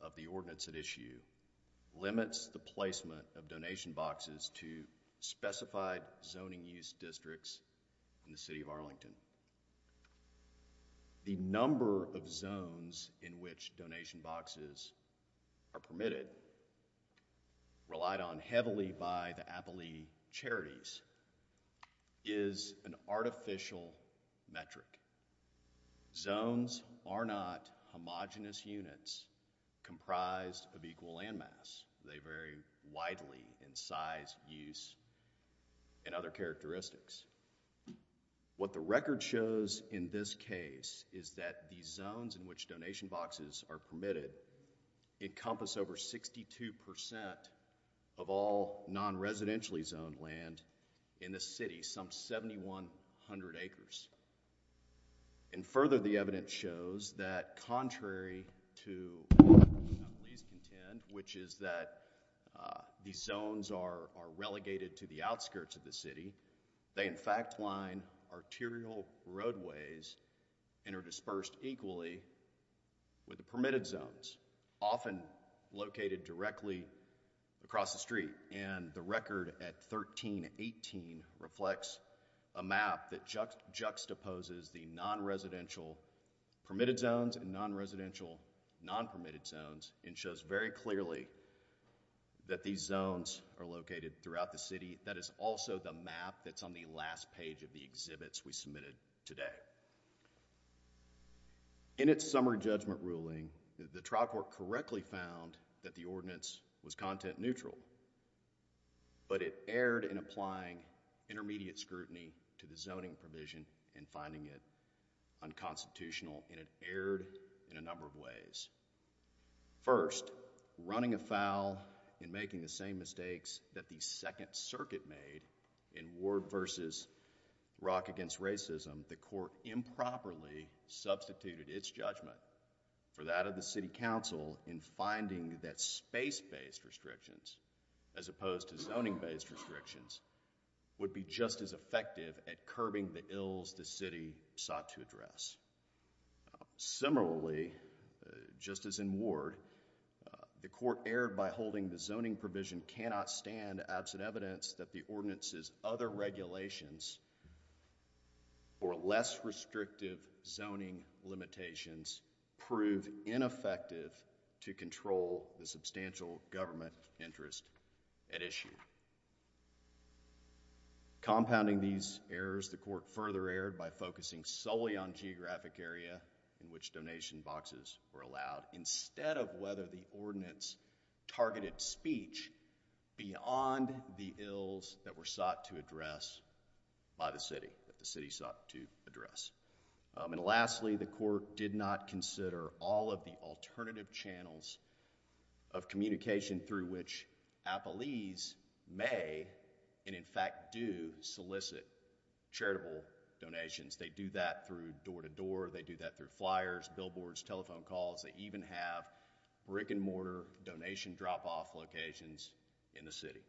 of the ordinance at issue limits the placement of donation boxes to specified zoning use districts in the City of Arlington. The number of zones in which donation boxes are permitted, relied on heavily by the Appley Charities, is an artificial metric. Zones are not homogenous units comprised of equal landmass. They vary widely in size, use, and other characteristics. What the record shows in this case is that the zones in which donation boxes are permitted encompass over 62% of all non-residentially zoned land in the city, some 7,100 acres. And further, the evidence shows that contrary to what the Appley Charities contend, which is that these zones are relegated to the outskirts of the city, they in fact line arterial roadways and are dispersed equally with the permitted zones, often located directly across the street. And the record at 13-18 reflects a map that juxtaposes the non-residential permitted zones and non-residential non-permitted zones and shows very clearly that these zones are located throughout the city. That is also the map that's on the last page of the exhibits we submitted today. In its summary judgment ruling, the trial court correctly found that the ordinance was content-neutral, but it erred in applying intermediate scrutiny to the zoning provision and finding it unconstitutional, and it erred in a number of ways. First, running afoul and making the same mistakes that the Second Circuit made in Ward v. Rock Against Racism, the court improperly substituted its judgment for that of the City Council in finding that space-based restrictions, as opposed to zoning-based restrictions, would be just as effective at curbing the ills the city sought to address. Similarly, just as in Ward, the court erred by holding the zoning provision cannot stand absent evidence that the ordinance's other regulations or less restrictive zoning limitations proved ineffective to control the substantial government interest at issue. Compounding these errors, the court further erred by focusing solely on geographic area in which donation boxes were allowed, instead of whether the ordinance targeted speech beyond the ills that were sought to address by the city, that the city sought to address. And lastly, the court did not consider all of the alternative channels of communication through which appellees may, and in fact do, solicit charitable donations. They do that through door-to-door, they do that through flyers, billboards, telephone calls, they even have brick-and-mortar donation drop-off locations in the city.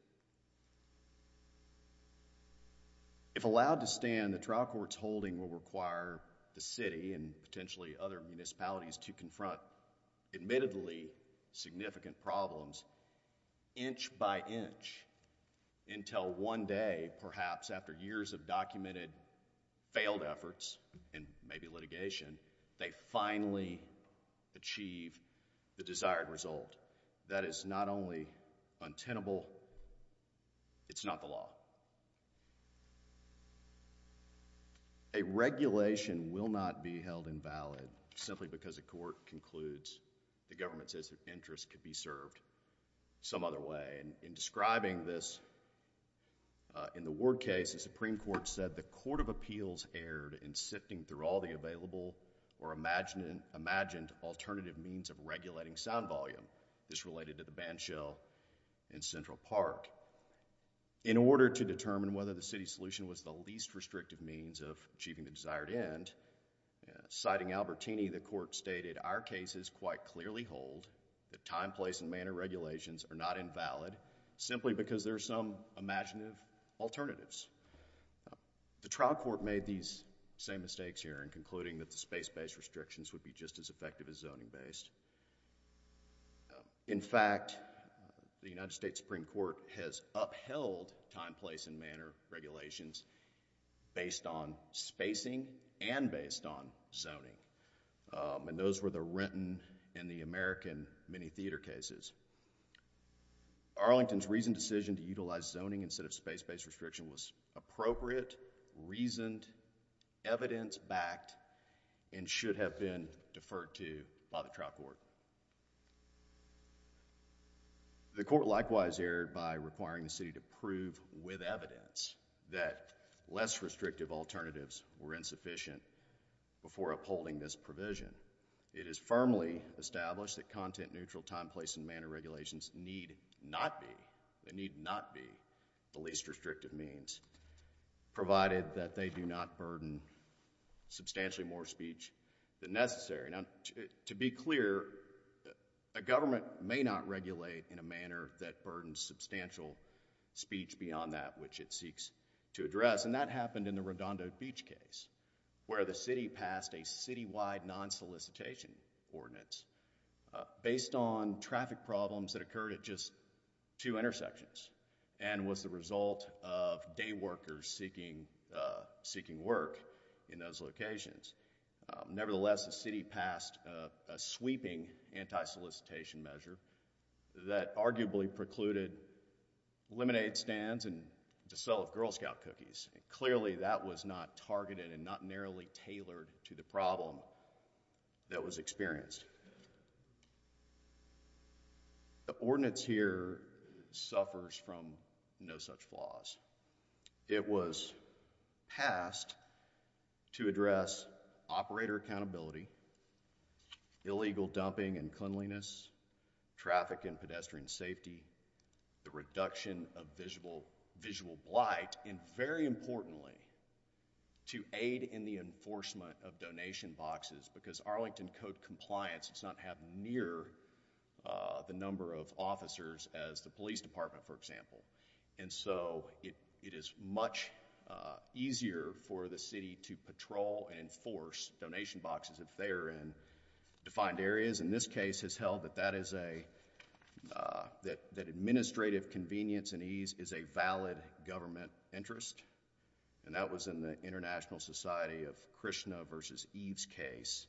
If allowed to stand, the trial court's holding will require the city and potentially other inch-by-inch until one day, perhaps after years of documented failed efforts, and maybe litigation, they finally achieve the desired result. That is not only untenable, it's not the law. A regulation will not be held invalid simply because a court concludes the government's explicit interest could be served some other way. In describing this in the Ward case, the Supreme Court said, the Court of Appeals erred in sifting through all the available or imagined alternative means of regulating sound volume. This related to the bandshell in Central Park. In order to determine whether the city's solution was the least restrictive means of hold, the time, place, and manner regulations are not invalid simply because there are some imaginative alternatives. The trial court made these same mistakes here in concluding that the space-based restrictions would be just as effective as zoning-based. In fact, the United States Supreme Court has upheld time, place, and manner regulations based on spacing and based on zoning. And those were the Renton and the American mini-theater cases. Arlington's reasoned decision to utilize zoning instead of space-based restriction was appropriate, reasoned, evidence-backed, and should have been deferred to by the trial court. The court likewise erred by requiring the city to prove with evidence that less restrictive alternatives were insufficient before upholding this provision. It is firmly established that content-neutral time, place, and manner regulations need not be, they need not be the least restrictive means, provided that they do not burden substantially more speech than necessary. Now, to be clear, a government may not regulate in a manner that burdens substantial speech beyond that which it seeks to address. And that happened in the Redondo Beach case where the city passed a citywide non-solicitation ordinance based on traffic problems that occurred at just two intersections and was the result of day workers seeking work in those locations. Nevertheless, the city passed a sweeping anti-solicitation measure that arguably precluded lemonade stands and the sale of Girl Scout cookies, and clearly that was not targeted and not narrowly tailored to the problem that was experienced. The ordinance here suffers from no such flaws. It was passed to address operator accountability, illegal dumping and cleanliness, traffic and visual blight, and very importantly, to aid in the enforcement of donation boxes because Arlington Code compliance does not have near the number of officers as the police department, for example. And so it is much easier for the city to patrol and enforce donation boxes if they are in defined areas. The ordinance in this case has held that that is a... that administrative convenience and ease is a valid government interest, and that was in the International Society of Krishna v. Eve's case,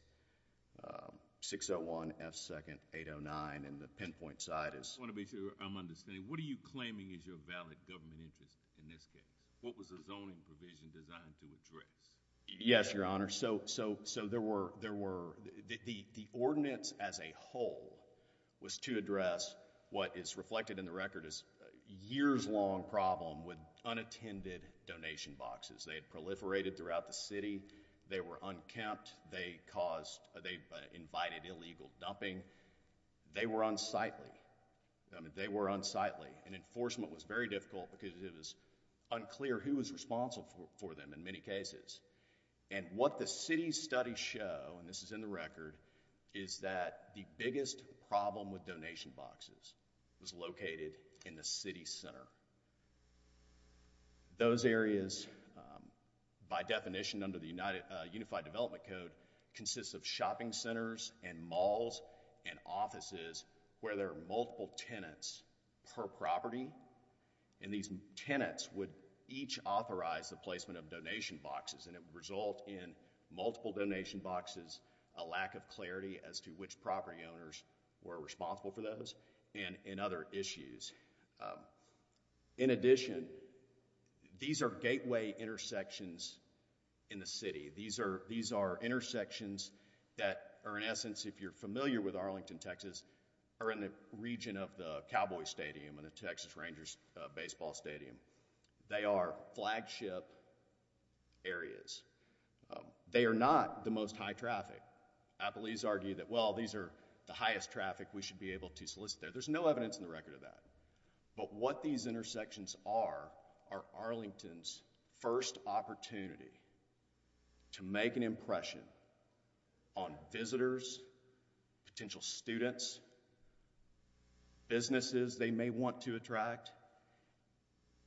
601 F. 2nd 809, and the pinpoint site is... I want to be sure I'm understanding. What are you claiming is your valid government interest in this case? What was the zoning provision designed to address? Yes, Your Honor. So there were... the ordinance as a whole was to address what is reflected in the record as a years-long problem with unattended donation boxes. They had proliferated throughout the city. They were unkempt. They caused... they invited illegal dumping. They were unsightly. I mean, they were unsightly, and enforcement was very difficult because it was unclear who was responsible for them in many cases. And what the city's studies show, and this is in the record, is that the biggest problem with donation boxes was located in the city center. Those areas, by definition under the Unified Development Code, consists of shopping centers and malls and offices where there are multiple tenants per property, and these tenants would each authorize the placement of donation boxes, and it would result in multiple donation boxes, a lack of clarity as to which property owners were responsible for those, and other issues. In addition, these are gateway intersections in the city. These are intersections that are, in essence, if you're familiar with Arlington, Texas, are in the region of the Cowboy Stadium and the Texas Rangers baseball stadium. They are flagship areas. They are not the most high traffic. Appellees argue that, well, these are the highest traffic we should be able to solicit there. There's no evidence in the record of that. But what these intersections are, are Arlington's first opportunity to make an impression on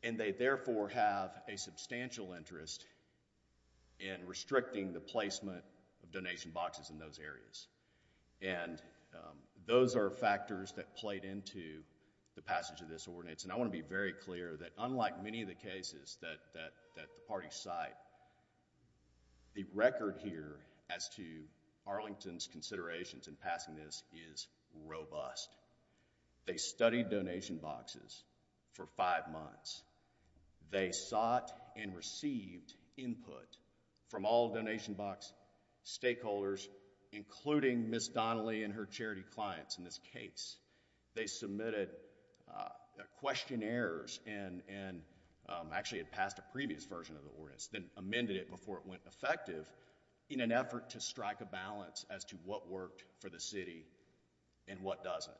And they, therefore, have a substantial interest in restricting the placement of donation boxes in those areas. Those are factors that played into the passage of this ordinance, and I want to be very clear that unlike many of the cases that the parties cite, the record here as to Arlington's considerations in passing this is robust. They studied donation boxes for five months. They sought and received input from all donation box stakeholders, including Ms. Donnelly and her charity clients in this case. They submitted questionnaires and actually had passed a previous version of the ordinance, then amended it before it went effective in an effort to strike a balance as to what worked for the city and what doesn't.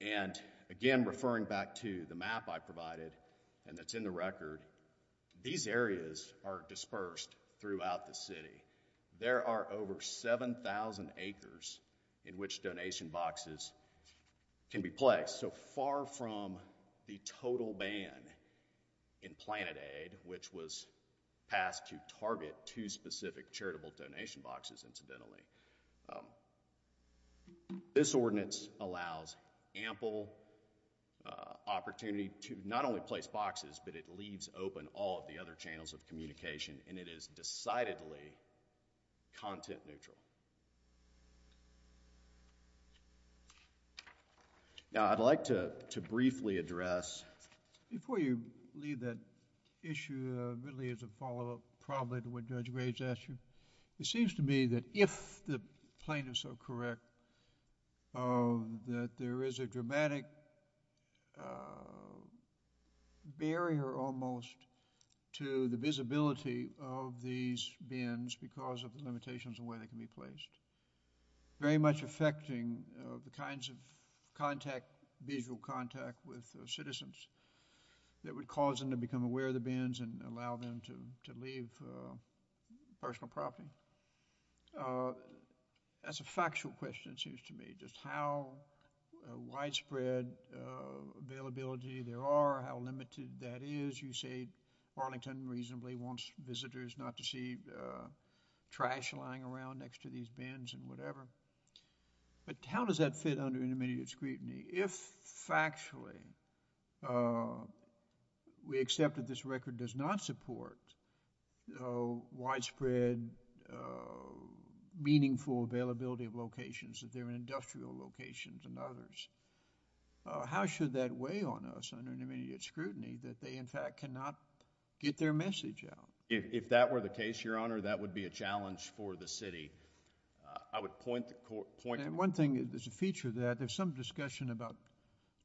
And again, referring back to the map I provided and that's in the record, these areas are dispersed throughout the city. There are over 7,000 acres in which donation boxes can be placed. So far from the total ban in Planet Aid, which was passed to target two specific charitable donation boxes incidentally. This ordinance allows ample opportunity to not only place boxes, but it leaves open all of the other channels of communication, and it is decidedly content neutral. Now, I'd like to briefly address... It seems to me that if the plaintiffs are correct, that there is a dramatic barrier almost to the visibility of these bins because of the limitations of where they can be placed. Very much affecting the kinds of visual contact with citizens that would cause them to become victims of personal property. That's a factual question, it seems to me, just how widespread availability there are, how limited that is. You say Arlington reasonably wants visitors not to see trash lying around next to these bins and whatever, but how does that fit under intermediate scrutiny? If factually we accept that this record does not support widespread, meaningful availability of locations, if they're industrial locations and others, how should that weigh on us under intermediate scrutiny that they, in fact, cannot get their message out? If that were the case, Your Honor, that would be a challenge for the city. I would point... One thing that's a feature of that, there's some discussion about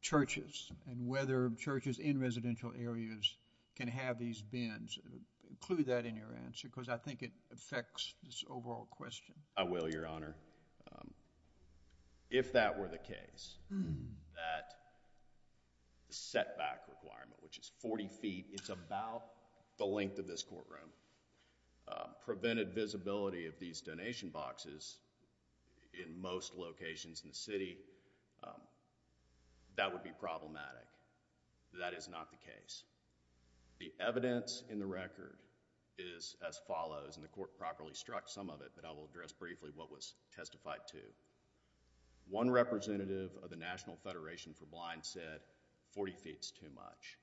churches and whether churches in residential areas can have these bins. Include that in your answer because I think it affects this overall question. I will, Your Honor. If that were the case, that setback requirement, which is 40 feet, it's about the length of this courtroom, prevented visibility of these donation boxes in most locations in the city, that would be problematic. That is not the case. The evidence in the record is as follows, and the court properly struck some of it, but I will address briefly what was testified to. One representative of the National Federation for Blind said 40 feet is too much.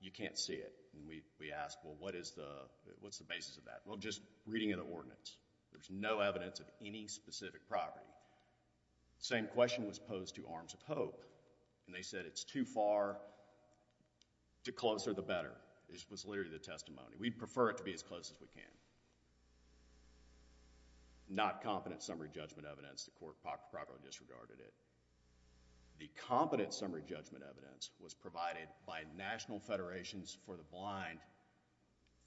You can't see it. We asked, well, what's the basis of that? Well, just reading of the ordinance, there's no evidence of any specific property. Same question was posed to Arms of Hope, and they said it's too far, the closer the better. It was literally the testimony. We'd prefer it to be as close as we can. Not competent summary judgment evidence, the court properly disregarded it. The competent summary judgment evidence was provided by National Federation for the Blind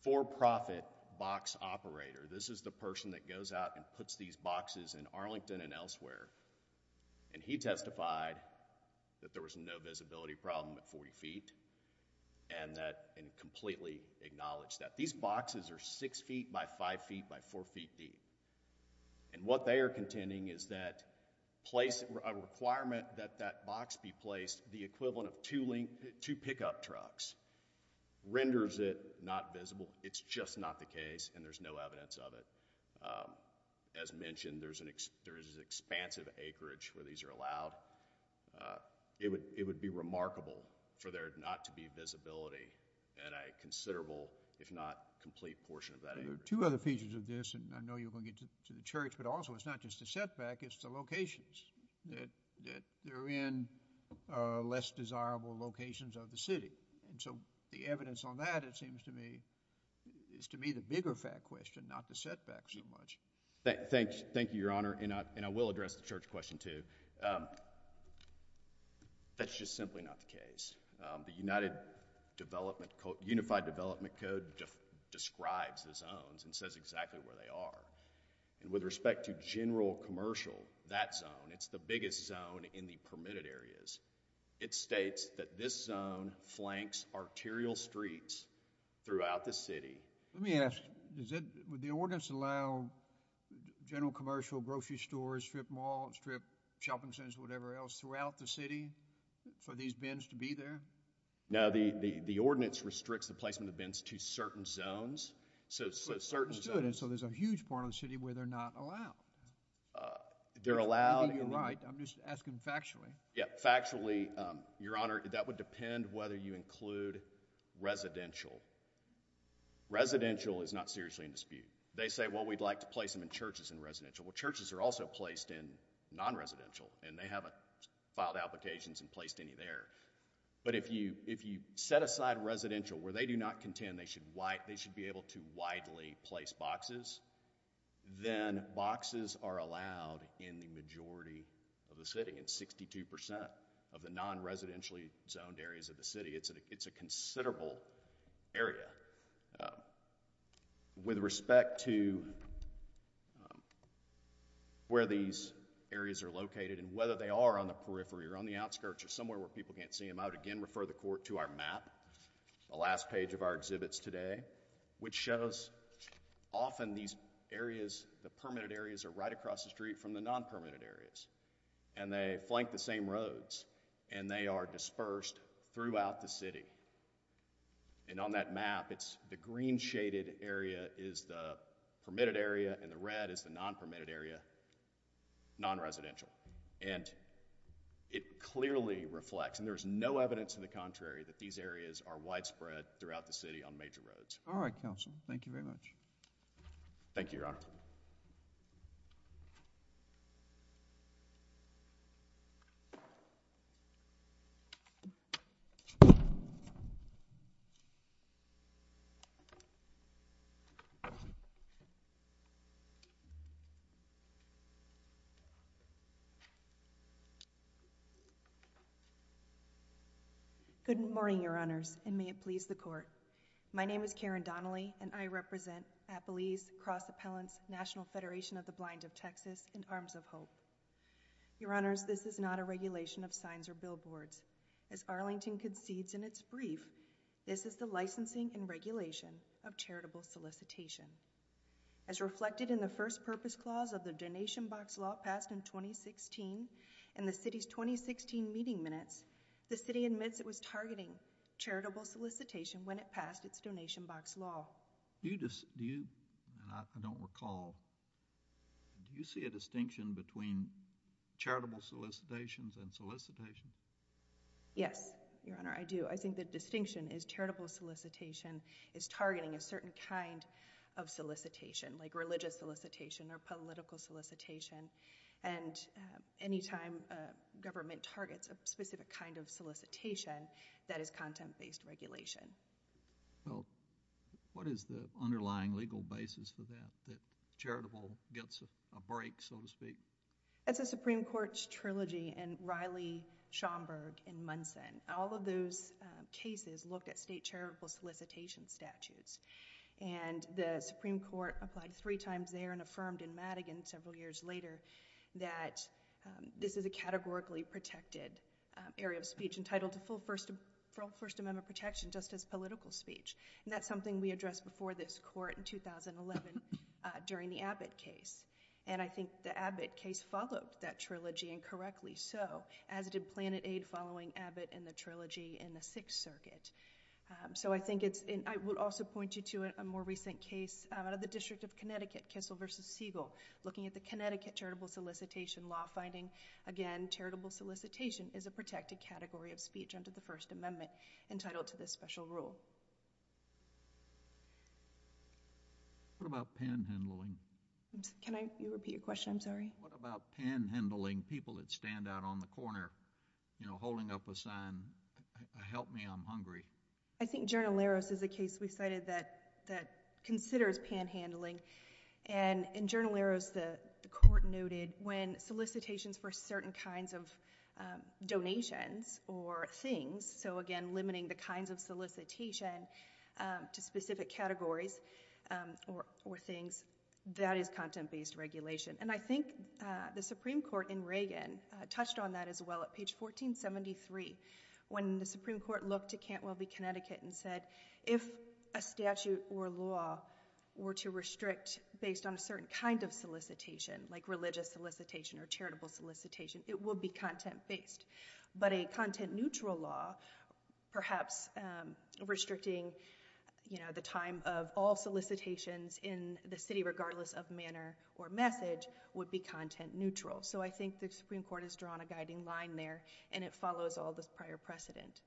for-profit box operator. This is the person that goes out and puts these boxes in Arlington and elsewhere. He testified that there was no visibility problem at 40 feet, and completely acknowledged that these boxes are six feet by five feet by four feet deep. And what they are contending is that a requirement that that box be placed the equivalent of two pickup trucks renders it not visible. It's just not the case, and there's no evidence of it. As mentioned, there is an expansive acreage where these are allowed. It would be remarkable for there not to be visibility at a considerable, if not complete, portion of that acreage. There are two other features of this, and I know you're going to get to the Church, but also it's not just the setback, it's the locations, that they're in less desirable locations of the city. So the evidence on that, it seems to me, is to me the bigger fat question, not the setback so much. Thank you, Your Honor, and I will address the Church question, too. That's just simply not the case. The United Development Code, Unified Development Code, describes the zones and says exactly where they are, and with respect to general commercial, that zone, it's the biggest zone in the permitted areas. It states that this zone flanks arterial streets throughout the city. Let me ask, would the ordinance allow general commercial, grocery stores, strip malls, strip shopping centers, whatever else, throughout the city for these bins to be there? No, the ordinance restricts the placement of bins to certain zones. So there's a huge part of the city where they're not allowed? They're allowed. You're right. I'm just asking factually. Yeah, factually, Your Honor, that would depend whether you include residential. Residential is not seriously in dispute. They say, well, we'd like to place them in churches and residential. Well, churches are also placed in non-residential, and they haven't filed applications and placed any there. But if you set aside residential where they do not contend they should be able to widely place boxes, then boxes are allowed in the majority of the city, in 62% of the non-residentially zoned areas of the city. It's a considerable area. With respect to where these areas are located and whether they are on the periphery or on the outskirts or somewhere where people can't see them, I would again refer the Court to our map, the last page of our exhibits today, which shows often these areas, the permitted areas are right across the street from the non-permitted areas. And they flank the same roads, and they are dispersed throughout the city. And on that map, the green shaded area is the permitted area, and the red is the non-permitted area, non-residential. And it clearly reflects, and there is no evidence to the contrary, that these areas are widespread throughout the city on major roads. All right, Counsel. Thank you very much. Thank you, Your Honor. Good morning, Your Honors, and may it please the Court. My name is Karen Donnelly, and I represent Appalese Cross Appellants, National Federation of the Blind of Texas, and Arms of Hope. Your Honors, this is not a regulation of signs or billboards. As Arlington concedes in its brief, this is the licensing and regulation of charitable solicitation. As reflected in the First Purpose Clause of the Donation Box Law passed in 2016, in the city's 2016 meeting minutes, the city admits it was targeting charitable solicitation when it passed its Donation Box Law. Do you, and I don't recall, do you see a distinction between charitable solicitations and solicitation? Yes, Your Honor, I do. I think the distinction is charitable solicitation is targeting a certain kind of solicitation, like religious solicitation or political solicitation, and any time a government targets a specific kind of solicitation, that is content-based regulation. Well, what is the underlying legal basis for that, that charitable gets a break, so to speak? That's a Supreme Court's trilogy in Riley, Schomburg, and Munson. All of those cases looked at state charitable solicitation statutes, and the Supreme Court applied three times there and affirmed in Madigan several years later that this is a categorically protected area of speech entitled to full First Amendment protection just as political speech. That's something we addressed before this Court in 2011 during the Abbott case, and I think the Abbott case followed that trilogy, and correctly so, as did Planet Aid following Abbott and the trilogy in the Sixth Circuit. So I think it's, and I would also point you to a more recent case out of the District of Connecticut, Kissel v. Siegel, looking at the Connecticut charitable solicitation law finding. Again, charitable solicitation is a protected category of speech under the First Amendment entitled to this special rule. What about panhandling? Can I repeat your question? I'm sorry. What about panhandling? People that stand out on the corner, you know, holding up a sign, help me, I'm hungry. I think General Larros is a case we cited that considers panhandling, and in General Larros the Court noted when solicitations for certain kinds of donations or things, so again, limiting the kinds of solicitation to specific categories or things, that is content-based regulation. And I think the Supreme Court in Reagan touched on that as well at page 1473, when the Supreme Court looked to Cantwell v. Connecticut and said, if a statute or law were to restrict based on a certain kind of solicitation, like religious solicitation or charitable solicitation, it would be content-based. But a content-neutral law, perhaps restricting, you know, the time of all solicitations in the city, regardless of manner or message, would be content-neutral. So I think the Supreme Court has drawn a guiding line there, and it follows all the prior precedent.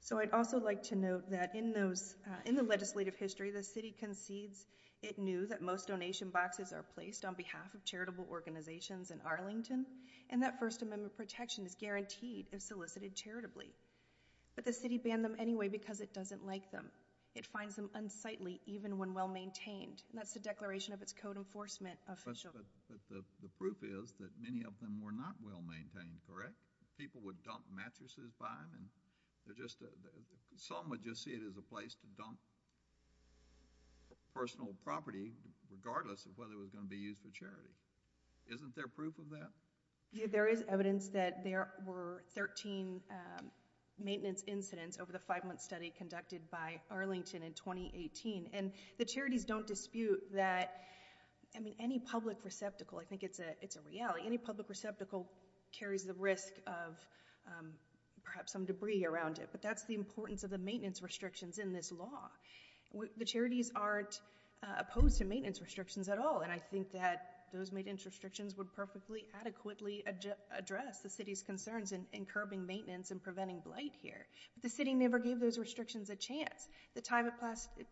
So I'd also like to note that in the legislative history, the city concedes it knew that most donation boxes are placed on behalf of charitable organizations in Arlington, and that First Amendment protection is guaranteed if solicited charitably. But the city banned them anyway because it doesn't like them. It finds them unsightly, even when well-maintained, and that's the declaration of its code enforcement official. But the proof is that many of them were not well-maintained, correct? People would dump mattresses by them, and some would just see it as a place to dump personal property, regardless of whether it was going to be used for charity. Isn't there proof of that? There is evidence that there were 13 maintenance incidents over the five-month study conducted by Arlington in 2018. And the charities don't dispute that, I mean, any public receptacle, I think it's a reality, any public receptacle carries the risk of perhaps some debris around it, but that's the importance of the maintenance restrictions in this law. The charities aren't opposed to maintenance restrictions at all, and I think that those are just the way they are. I mean, I think it's just a matter of the city's ability to adequately address the city's concerns in curbing maintenance and preventing blight here. But the city never gave those restrictions a chance. At the time it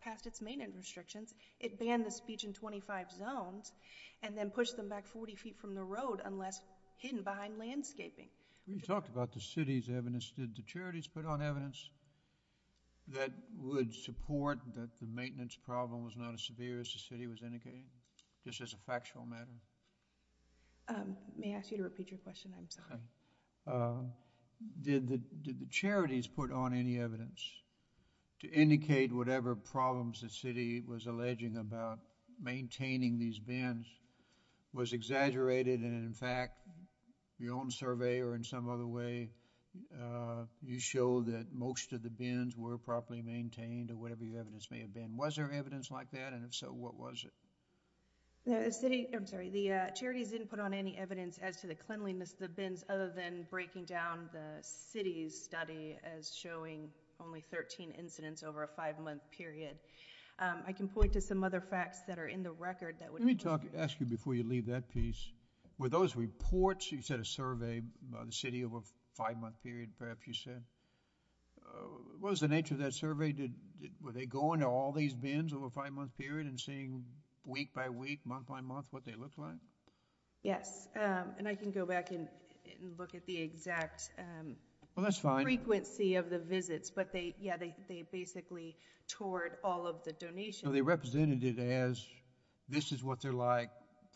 passed its maintenance restrictions, it banned the speech in 25 zones, and then pushed them back 40 feet from the road, unless hidden behind landscaping. You talked about the city's evidence. Did the charities put on evidence that would support that the maintenance problem was not I mean, there's a lot of evidence. I mean, there's a lot of evidence. I'm sorry. Did the charities put on any evidence to indicate whatever problems the city was alleging about maintaining these bins was exaggerated, and in fact, your own survey or in some other way, you show that most of the bins were properly maintained or whatever your evidence may have been. Was there evidence like that? And if so, what was it? The city, I'm sorry, the charities didn't put on any evidence as to the cleanliness of the bins other than breaking down the city's study as showing only 13 incidents over a five-month period. I can point to some other facts that are in the record. Let me ask you before you leave that piece. Were those reports, you said a survey of the city over a five-month period, perhaps you said. What was the nature of that survey? Were they going to all these bins over a five-month period and seeing week by week, month by month what they looked like? Yes. And I can go back and look at the exact frequency of the visits, but yeah, they basically toured all of the donations. So they represented it as this is what they're like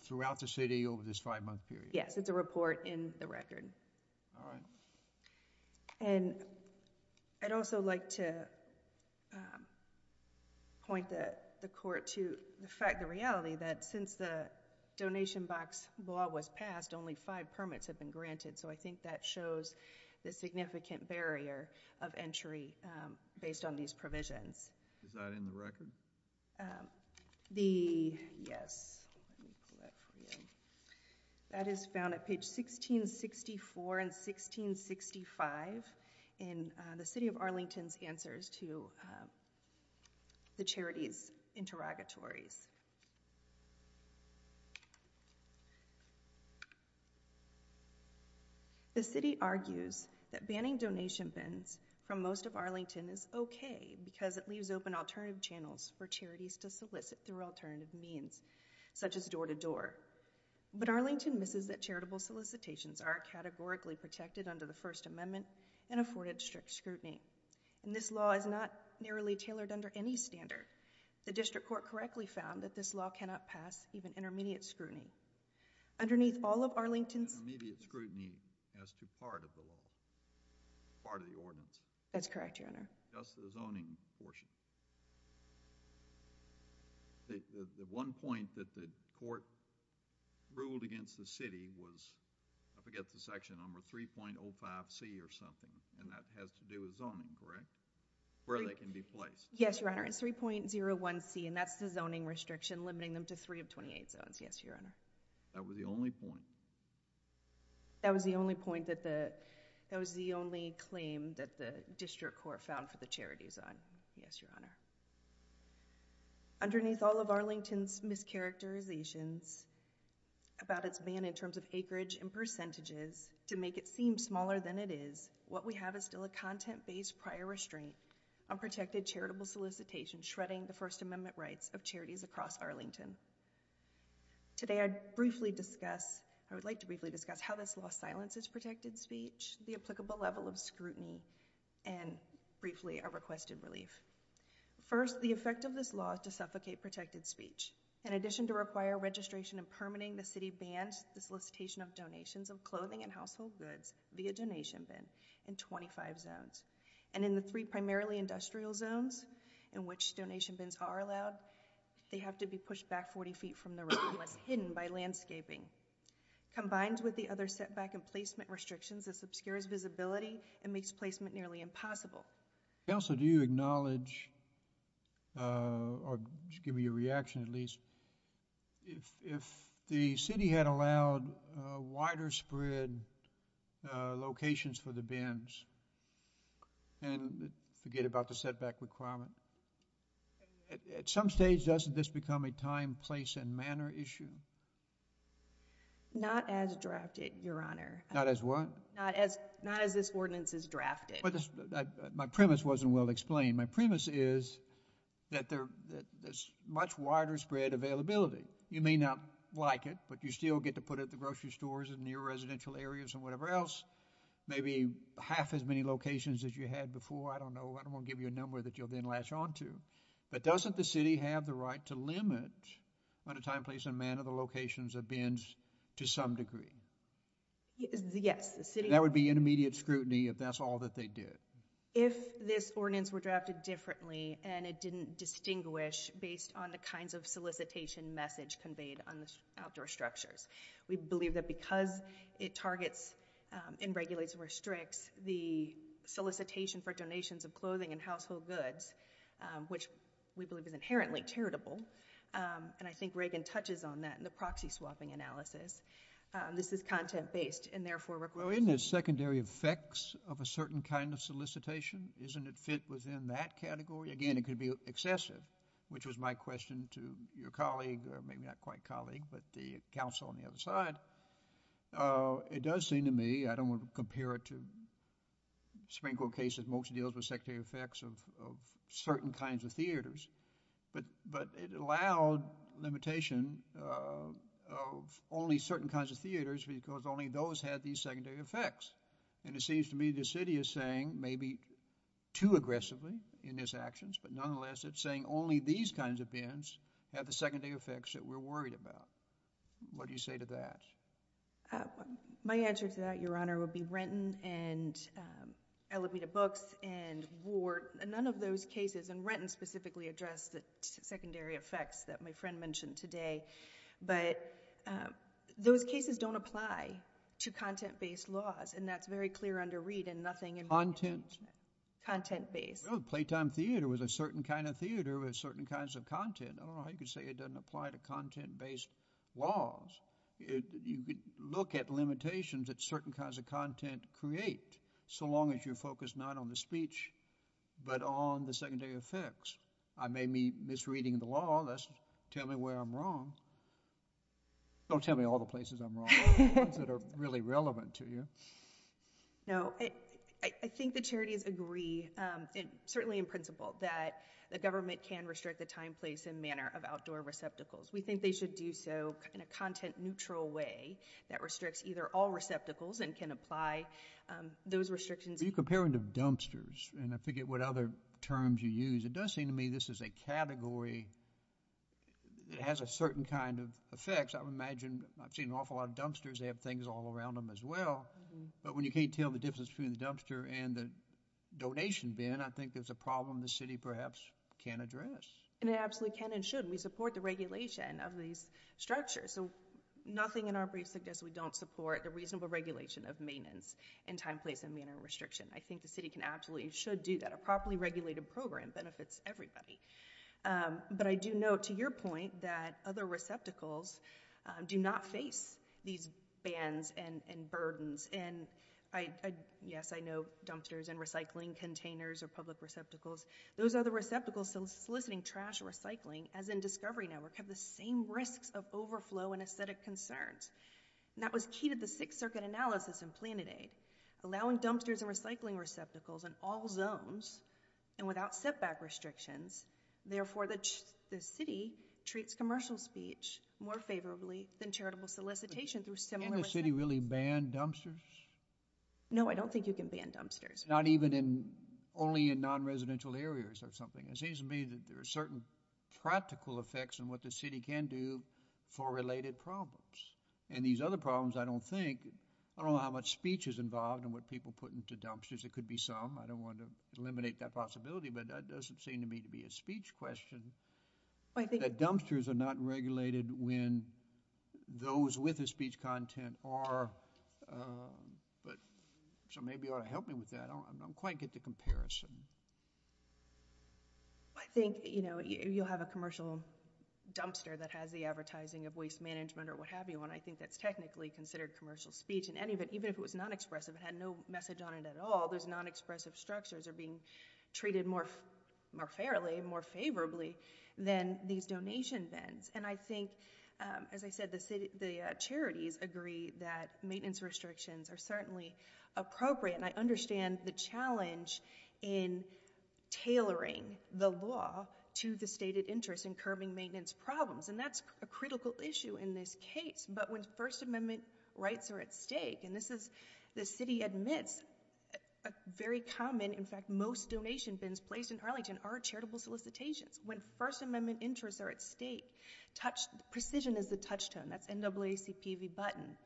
throughout the city over this five-month period. Yes. It's a report in the record. All right. And I'd also like to point the court to the fact, the reality that since the donation box law was passed, only five permits have been granted. So I think that shows the significant barrier of entry based on these provisions. Is that in the record? Yes. Let me pull that for you. That is found at page 1664 and 1665 in the city of Arlington's answers to the charity's interrogatories. The city argues that banning donation bins from most of Arlington is okay because it leaves open alternative channels for charities to solicit through alternative means, such as door-to-door. But Arlington misses that charitable solicitations are categorically protected under the First Amendment and afforded strict scrutiny. And this law is not narrowly tailored under any standard. The district court correctly found that this law cannot pass even intermediate scrutiny. Underneath all of Arlington's... Intermediate scrutiny has to be part of the law, part of the ordinance. That's correct, Your Honor. Just the zoning portion. The one point that the court ruled against the city was, I forget the section number, 3.05C or something, and that has to do with zoning, correct? Where they can be placed. Yes, Your Honor. It's 3.01C, and that's the zoning restriction limiting them to three of 28 zones, yes, Your Honor. That was the only point? That was the only point that the... that was the only claim that the district court found for the charities on, yes, Your Honor. Underneath all of Arlington's mischaracterizations about its ban in terms of acreage and percentages, to make it seem smaller than it is, what we have is still a content-based prior restraint on protected charitable solicitations shredding the First Amendment rights of charities across Arlington. Today, I'd briefly discuss... I would like to briefly discuss how this law silences protected speech, the applicable level of scrutiny, and briefly, a requested relief. First, the effect of this law is to suffocate protected speech. In addition to require registration and permitting, the city bans the solicitation of donations of clothing and household goods via donation bin in 25 zones. In the three primarily industrial zones in which donation bins are allowed, they have to be pushed back 40 feet from the road, less hidden by landscaping. Combined with the other setback and placement restrictions, this obscures visibility and makes placement nearly impossible. Counselor, do you acknowledge, or give me a reaction at least, if the city had allowed wider spread locations for the bins and forget about the setback requirement, at some stage doesn't this become a time, place, and manner issue? Not as drafted, Your Honor. Not as what? Not as this ordinance is drafted. My premise wasn't well explained. My premise is that there's much wider spread availability. You may not like it, but you still get to put it at the grocery stores and near residential areas and whatever else, maybe half as many locations as you had before. I don't know. I don't want to give you a number that you'll then latch onto. But doesn't the city have the right to limit on a time, place, and manner the locations of bins to some degree? Yes. That would be intermediate scrutiny if that's all that they did. If this ordinance were drafted differently and it didn't distinguish based on the kinds of solicitation message conveyed on the outdoor structures, we believe that because it targets and regulates and restricts the solicitation for donations of clothing and household goods, which we believe is inherently charitable, and I think Reagan touches on that in the proxy swapping analysis, this is content-based and therefore requires... Well, isn't it secondary effects of a certain kind of solicitation? Isn't it fit within that category? Again, it could be excessive, which was my question to your colleague, or maybe not quite colleague, but the counsel on the other side. It does seem to me, I don't want to compare it to Supreme Court cases, most deals with secondary effects of certain kinds of theaters, but it allowed limitation of only certain kinds of theaters because only those had these secondary effects. And it seems to me the city is saying maybe too aggressively in its actions, but nonetheless it's saying only these kinds of bins have the secondary effects that we're worried about. What do you say to that? My answer to that, Your Honor, would be Renton and Alameda Books and Ward, none of those cases, and Renton specifically addressed the secondary effects that my friend mentioned today, but those cases don't apply to content-based laws, and that's very clear under Reid and nothing... Content? Content-based. Playtime theater was a certain kind of theater with certain kinds of content. I don't know how you could say it doesn't apply to content-based laws. You could look at limitations that certain kinds of content create, so long as you're focused not on the speech, but on the secondary effects. I may be misreading the law. Tell me where I'm wrong. Don't tell me all the places I'm wrong. What are the ones that are really relevant to you? No. I think the charities agree, certainly in principle, that the government can restrict the time, place, and manner of outdoor receptacles. We think they should do so in a content-neutral way that restricts either all receptacles and can apply those restrictions. When you compare them to dumpsters, and I forget what other terms you use, it does seem to me this is a category that has a certain kind of effect. I've seen an awful lot of dumpsters. They have things all around them as well, but when you can't tell the difference between It absolutely can and should. We support the regulation of these structures. Nothing in our brief suggests we don't support the reasonable regulation of maintenance and time, place, and manner restriction. I think the city absolutely should do that. A properly regulated program benefits everybody. I do note, to your point, that other receptacles do not face these bans and burdens. Yes, I know dumpsters and recycling containers are public receptacles. Those other receptacles soliciting trash or recycling, as in Discovery Network, have the same risks of overflow and aesthetic concerns. That was key to the Sixth Circuit analysis in Planet Aid, allowing dumpsters and recycling receptacles in all zones and without setback restrictions. Therefore, the city treats commercial speech more favorably than charitable solicitation through similar... Can't the city really ban dumpsters? No, I don't think you can ban dumpsters. Not even in... only in non-residential areas or something. It seems to me that there are certain practical effects on what the city can do for related problems. And these other problems, I don't think... I don't know how much speech is involved in what people put into dumpsters. It could be some. I don't want to eliminate that possibility, but that doesn't seem to me to be a speech question. I think... That dumpsters are not regulated when those with the speech content are. So maybe you ought to help me with that. I don't quite get the comparison. I think you'll have a commercial dumpster that has the advertising of waste management or what have you on it. I think that's technically considered commercial speech in any event, even if it was non-expressive and had no message on it at all. Those non-expressive structures are being treated more fairly, more favorably than these donation bins. And I think, as I said, the charities agree that maintenance restrictions are certainly appropriate. And I understand the challenge in tailoring the law to the stated interest in curbing maintenance problems. And that's a critical issue in this case. But when First Amendment rights are at stake, and this is... the city admits a very common... in fact, most donation bins placed in Arlington are charitable solicitations. When First Amendment interests are at stake, precision is the touchstone. That's NAACP v. Button.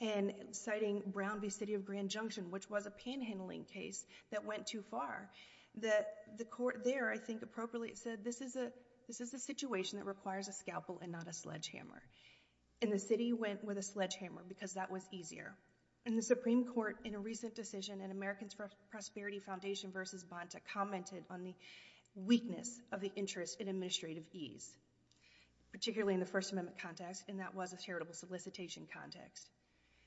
And citing Brown v. City of Grand Junction, which was a panhandling case that went too far, that the court there, I think, appropriately said, this is a situation that requires a scalpel and not a sledgehammer. And the city went with a sledgehammer because that was easier. And the Supreme Court, in a recent decision in Americans for Prosperity Foundation v. Bonta, commented on the weakness of the interest in administrative ease, particularly in the First Amendment context, and that was a charitable solicitation context.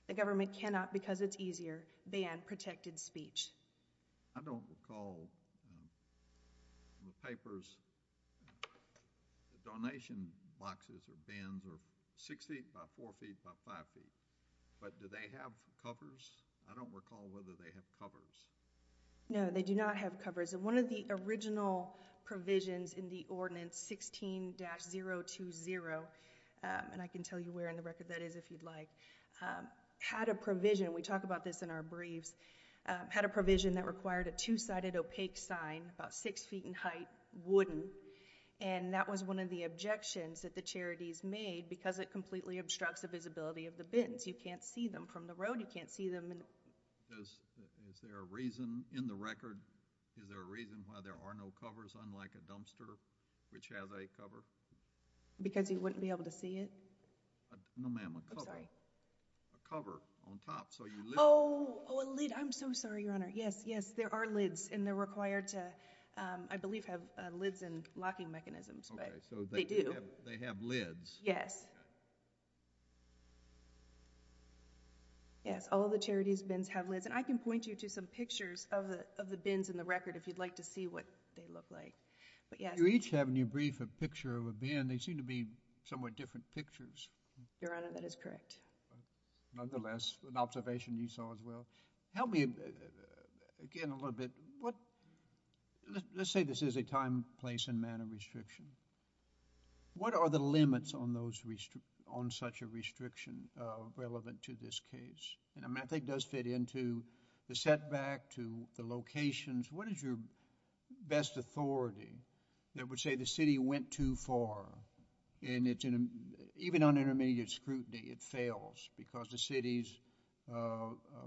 The government cannot, because it's easier, ban protected speech. I don't recall in the papers, the donation boxes or bins are six feet by four feet by five feet. But do they have covers? I don't recall whether they have covers. No, they do not have covers. And one of the original provisions in the Ordinance 16-020, and I can tell you where in the record that is if you'd like, had a provision, and we talk about this in our briefs, had a provision that required a two-sided opaque sign, about six feet in height, wooden. And that was one of the objections that the charities made because it completely obstructs the visibility of the bins. You can't see them from the road. You can't see them. Is there a reason in the record, is there a reason why there are no covers, unlike a dumpster, which has a cover? Because you wouldn't be able to see it? No, ma'am, a cover. I'm sorry. A cover on top, so you lift. Oh, a lid. I'm so sorry, Your Honor. Yes, yes, there are lids, and they're required to, I believe, have lids and locking mechanisms, but they do. Okay, so they have lids. Yes. Yes, all of the charities' bins have lids, and I can point you to some pictures of the bins in the record if you'd like to see what they look like. But yes. You each have in your brief a picture of a bin. They seem to be somewhat different pictures. Your Honor, that is correct. Nonetheless, an observation you saw as well. Help me again a little bit. Let's say this is a time, place, and manner restriction. What are the limits on those restrictions? What are the limits on such a restriction relevant to this case? I think it does fit into the setback to the locations. What is your best authority that would say the city went too far? Even on intermediate scrutiny, it fails because the city's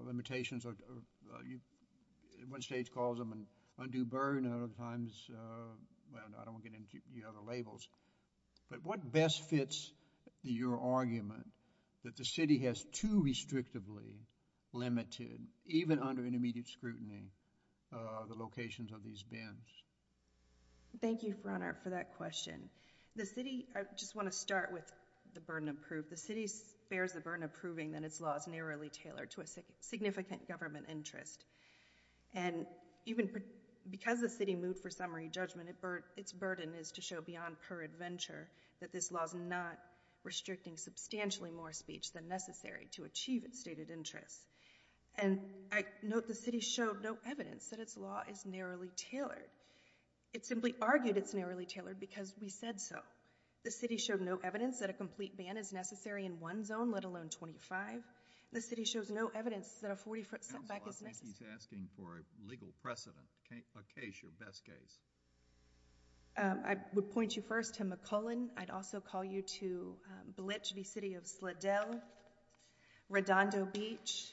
limitations... One state calls them an undue burden. Other times, well, I don't want to get into the other labels. But what best fits your argument that the city has too restrictively limited, even under intermediate scrutiny, the locations of these bins? Thank you, Your Honor, for that question. The city... I just want to start with the burden of proof. The city bears the burden of proving that its law is narrowly tailored to a significant government interest. And even because the city moved for summary judgment, its burden is to show beyond peradventure that this law is not restricting substantially more speech than necessary to achieve its stated interests. And I note the city showed no evidence that its law is narrowly tailored. It simply argued it's narrowly tailored because we said so. The city showed no evidence that a complete ban is necessary in one zone, let alone 25. The city shows no evidence that a 40-foot setback is necessary. Counsel, I think he's asking for a legal precedent, a case, your best case. I would point you first to McClellan. I'd also call you to Blitch v. City of Sladell, Redondo Beach,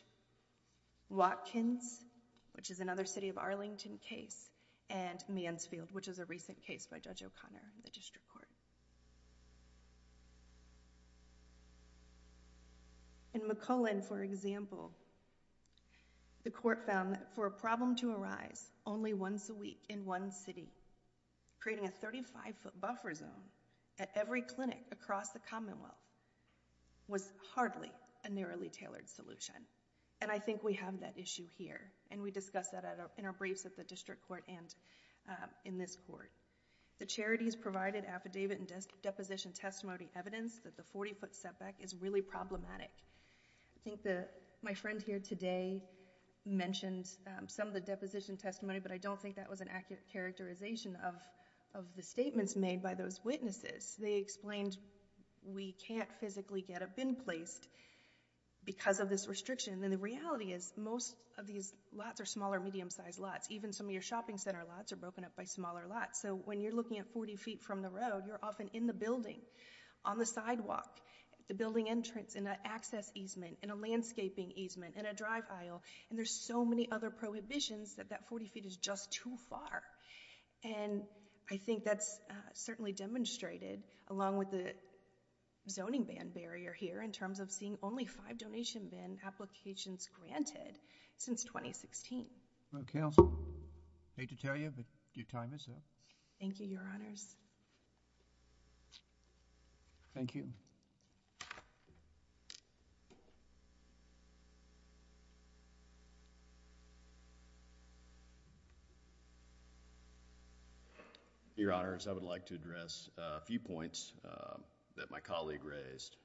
Watkins, which is another city of Arlington case, and Mansfield, which is a recent case by Judge O'Connor in the district court. In McClellan, for example, the court found that for a problem to arise only once a week in one city, creating a 35-foot buffer zone at every clinic across the commonwealth was hardly a narrowly tailored solution. And I think we have that issue here, and we discussed that in our briefs at the district court and in this court. The charities provided affidavit and deposition testimony evidence that the 40-foot setback is really problematic. I think that my friend here today mentioned some of the deposition testimony, but I don't think that was an accurate characterization of the statements made by those witnesses. They explained we can't physically get a bin placed because of this restriction. And the reality is most of these lots are smaller, medium-sized lots. Even some of your shopping center lots are broken up by smaller lots. So when you're looking at 40 feet from the road, you're often in the building, on the sidewalk, at the building entrance, in an access easement, in a landscaping easement, in a drive aisle. And there's so many other prohibitions that that 40 feet is just too far. And I think that's certainly demonstrated along with the zoning ban barrier here in terms of seeing only five donation bin applications granted since 2016. Okay. I hate to tell you, but your time is up. Thank you, Your Honors. Thank you. Your Honors, I would like to address a few points that my colleague raised.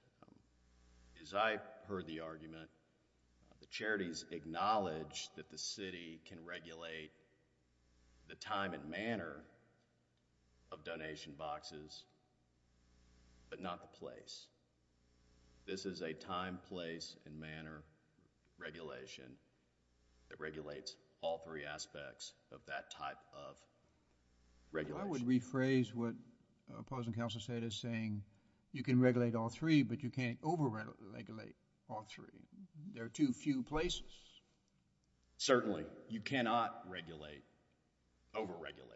As I heard the argument, the charities acknowledge that the city can regulate the time and manner of donation boxes, but not the place. This is a time, place, and manner regulation that regulates all three aspects of that type of regulation. I would rephrase what the opposing counsel said as saying, you can regulate all three, but you can't over-regulate all three. There are too few places. Certainly. You cannot regulate, over-regulate.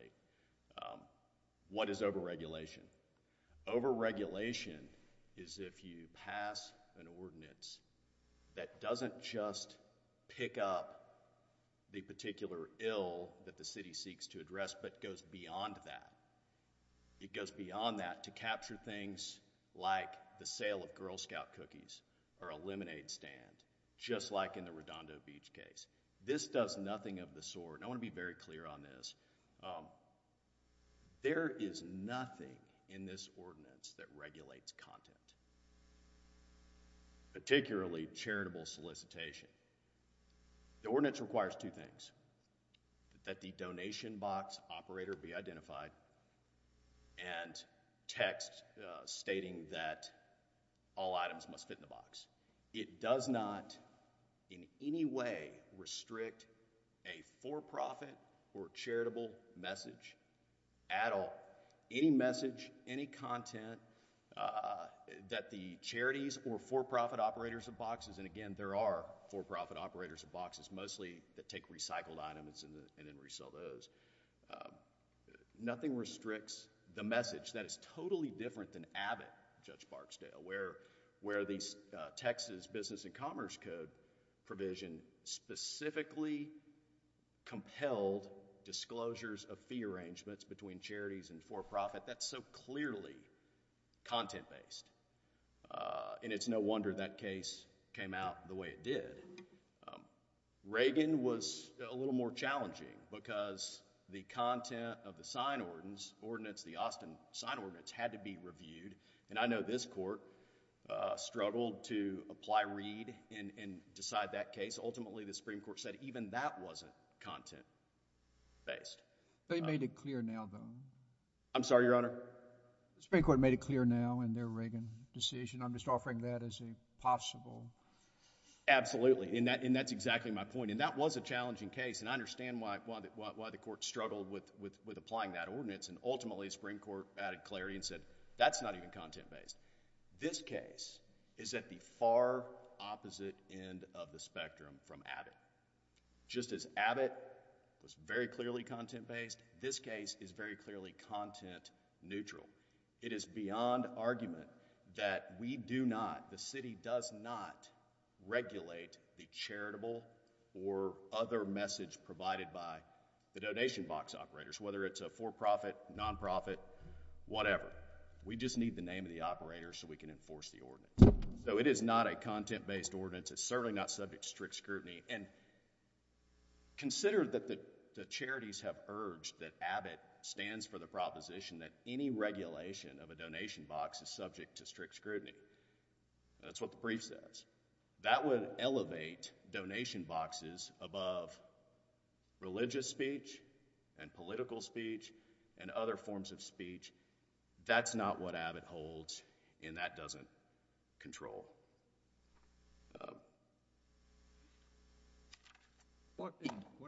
What is over-regulation? Over-regulation is if you pass an ordinance that doesn't just pick up the particular ill that the city seeks to address, but goes beyond that. It goes beyond that to capture things like the sale of Girl Scout cookies or a lemonade stand, just like in the Redondo Beach case. This does nothing of the sort. I want to be very clear on this. There is nothing in this ordinance that regulates content, particularly charitable solicitation. The ordinance requires two things, that the donation box operator be identified and text stating that all items must fit in the box. It does not in any way restrict a for-profit or charitable message at all. Any message, any content that the charities or for-profit operators of boxes, and again, there are for-profit operators of boxes, mostly that take recycled items and then resell those. Nothing restricts the message. That is totally different than Abbott, Judge Barksdale, where these Texas Business and Commerce Code provision specifically compelled disclosures of fee arrangements between charities and for-profit. That's so clearly content-based. It's no wonder that case came out the way it did. Reagan was a little more challenging because the content of the sign ordinance, the Austin sign ordinance, had to be reviewed. I know this court struggled to apply Reed and decide that case. Ultimately, the Supreme Court said even that wasn't content-based. They made it clear now, though. I'm sorry, Your Honor? The Supreme Court made it clear now in their Reagan decision. I'm just offering that as a possible... Absolutely. That's exactly my point. That was a challenging case. I understand why the court struggled with applying that ordinance. Ultimately, the Supreme Court added clarity and said, that's not even content-based. This case is at the far opposite end of the spectrum from Abbott. Just as Abbott was very clearly content-based, this case is very clearly content-neutral. It is beyond argument that we do not, the city does not, regulate the charitable or other message provided by the donation box operators. Whether it's a for-profit, non-profit, whatever. We just need the name of the operator so we can enforce the ordinance. It is not a content-based ordinance. It's certainly not subject to strict scrutiny. Consider that the charities have urged that Abbott stands for the proposition that any regulation of a donation box is subject to strict scrutiny. That's what the brief says. That would elevate donation boxes above religious speech and political speech and other forms of speech. That's not what Abbott holds, and that doesn't control. What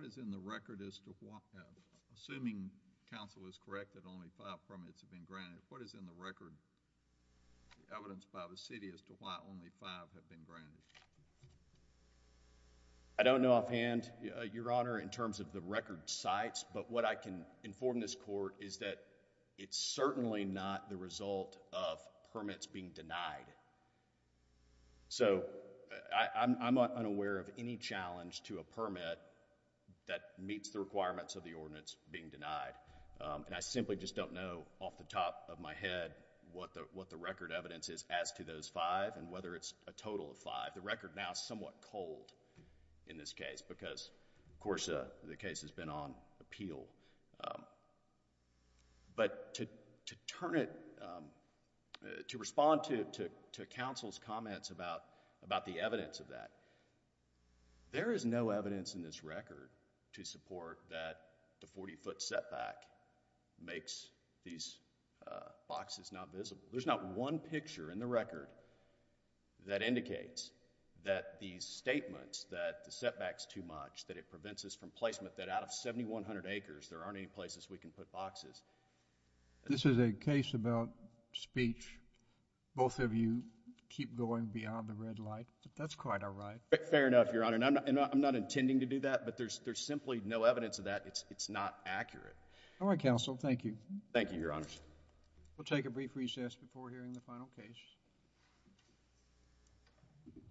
is in the record as to why, assuming counsel is correct that only five permits have been granted, what is in the record, the evidence by the city, as to why only five have been granted? I don't know offhand, Your Honor, in terms of the record sites, but what I can inform this court is that it's certainly not the result of permits being denied. I'm unaware of any challenge to a permit that meets the requirements of the ordinance being denied. I simply just don't know off the top of my head what the record evidence is as to those five and whether it's a total of five. The record now is somewhat cold in this case because, of course, the case has been on appeal. But to turn it, to respond to counsel's comments about the evidence of that, there is no evidence in this record to support that the 40-foot setback makes these boxes not visible. There's not one picture in the record that indicates that these statements that the setback's too much, that it prevents us from placement, that out of 7,100 acres, there aren't any places we can put boxes. This is a case about speech. Both of you keep going beyond the red light. That's quite all right. Fair enough, Your Honor, and I'm not intending to do that, but there's simply no evidence of that. It's not accurate. All right, counsel, thank you. Thank you, Your Honor. We'll take a brief recess before hearing the final case.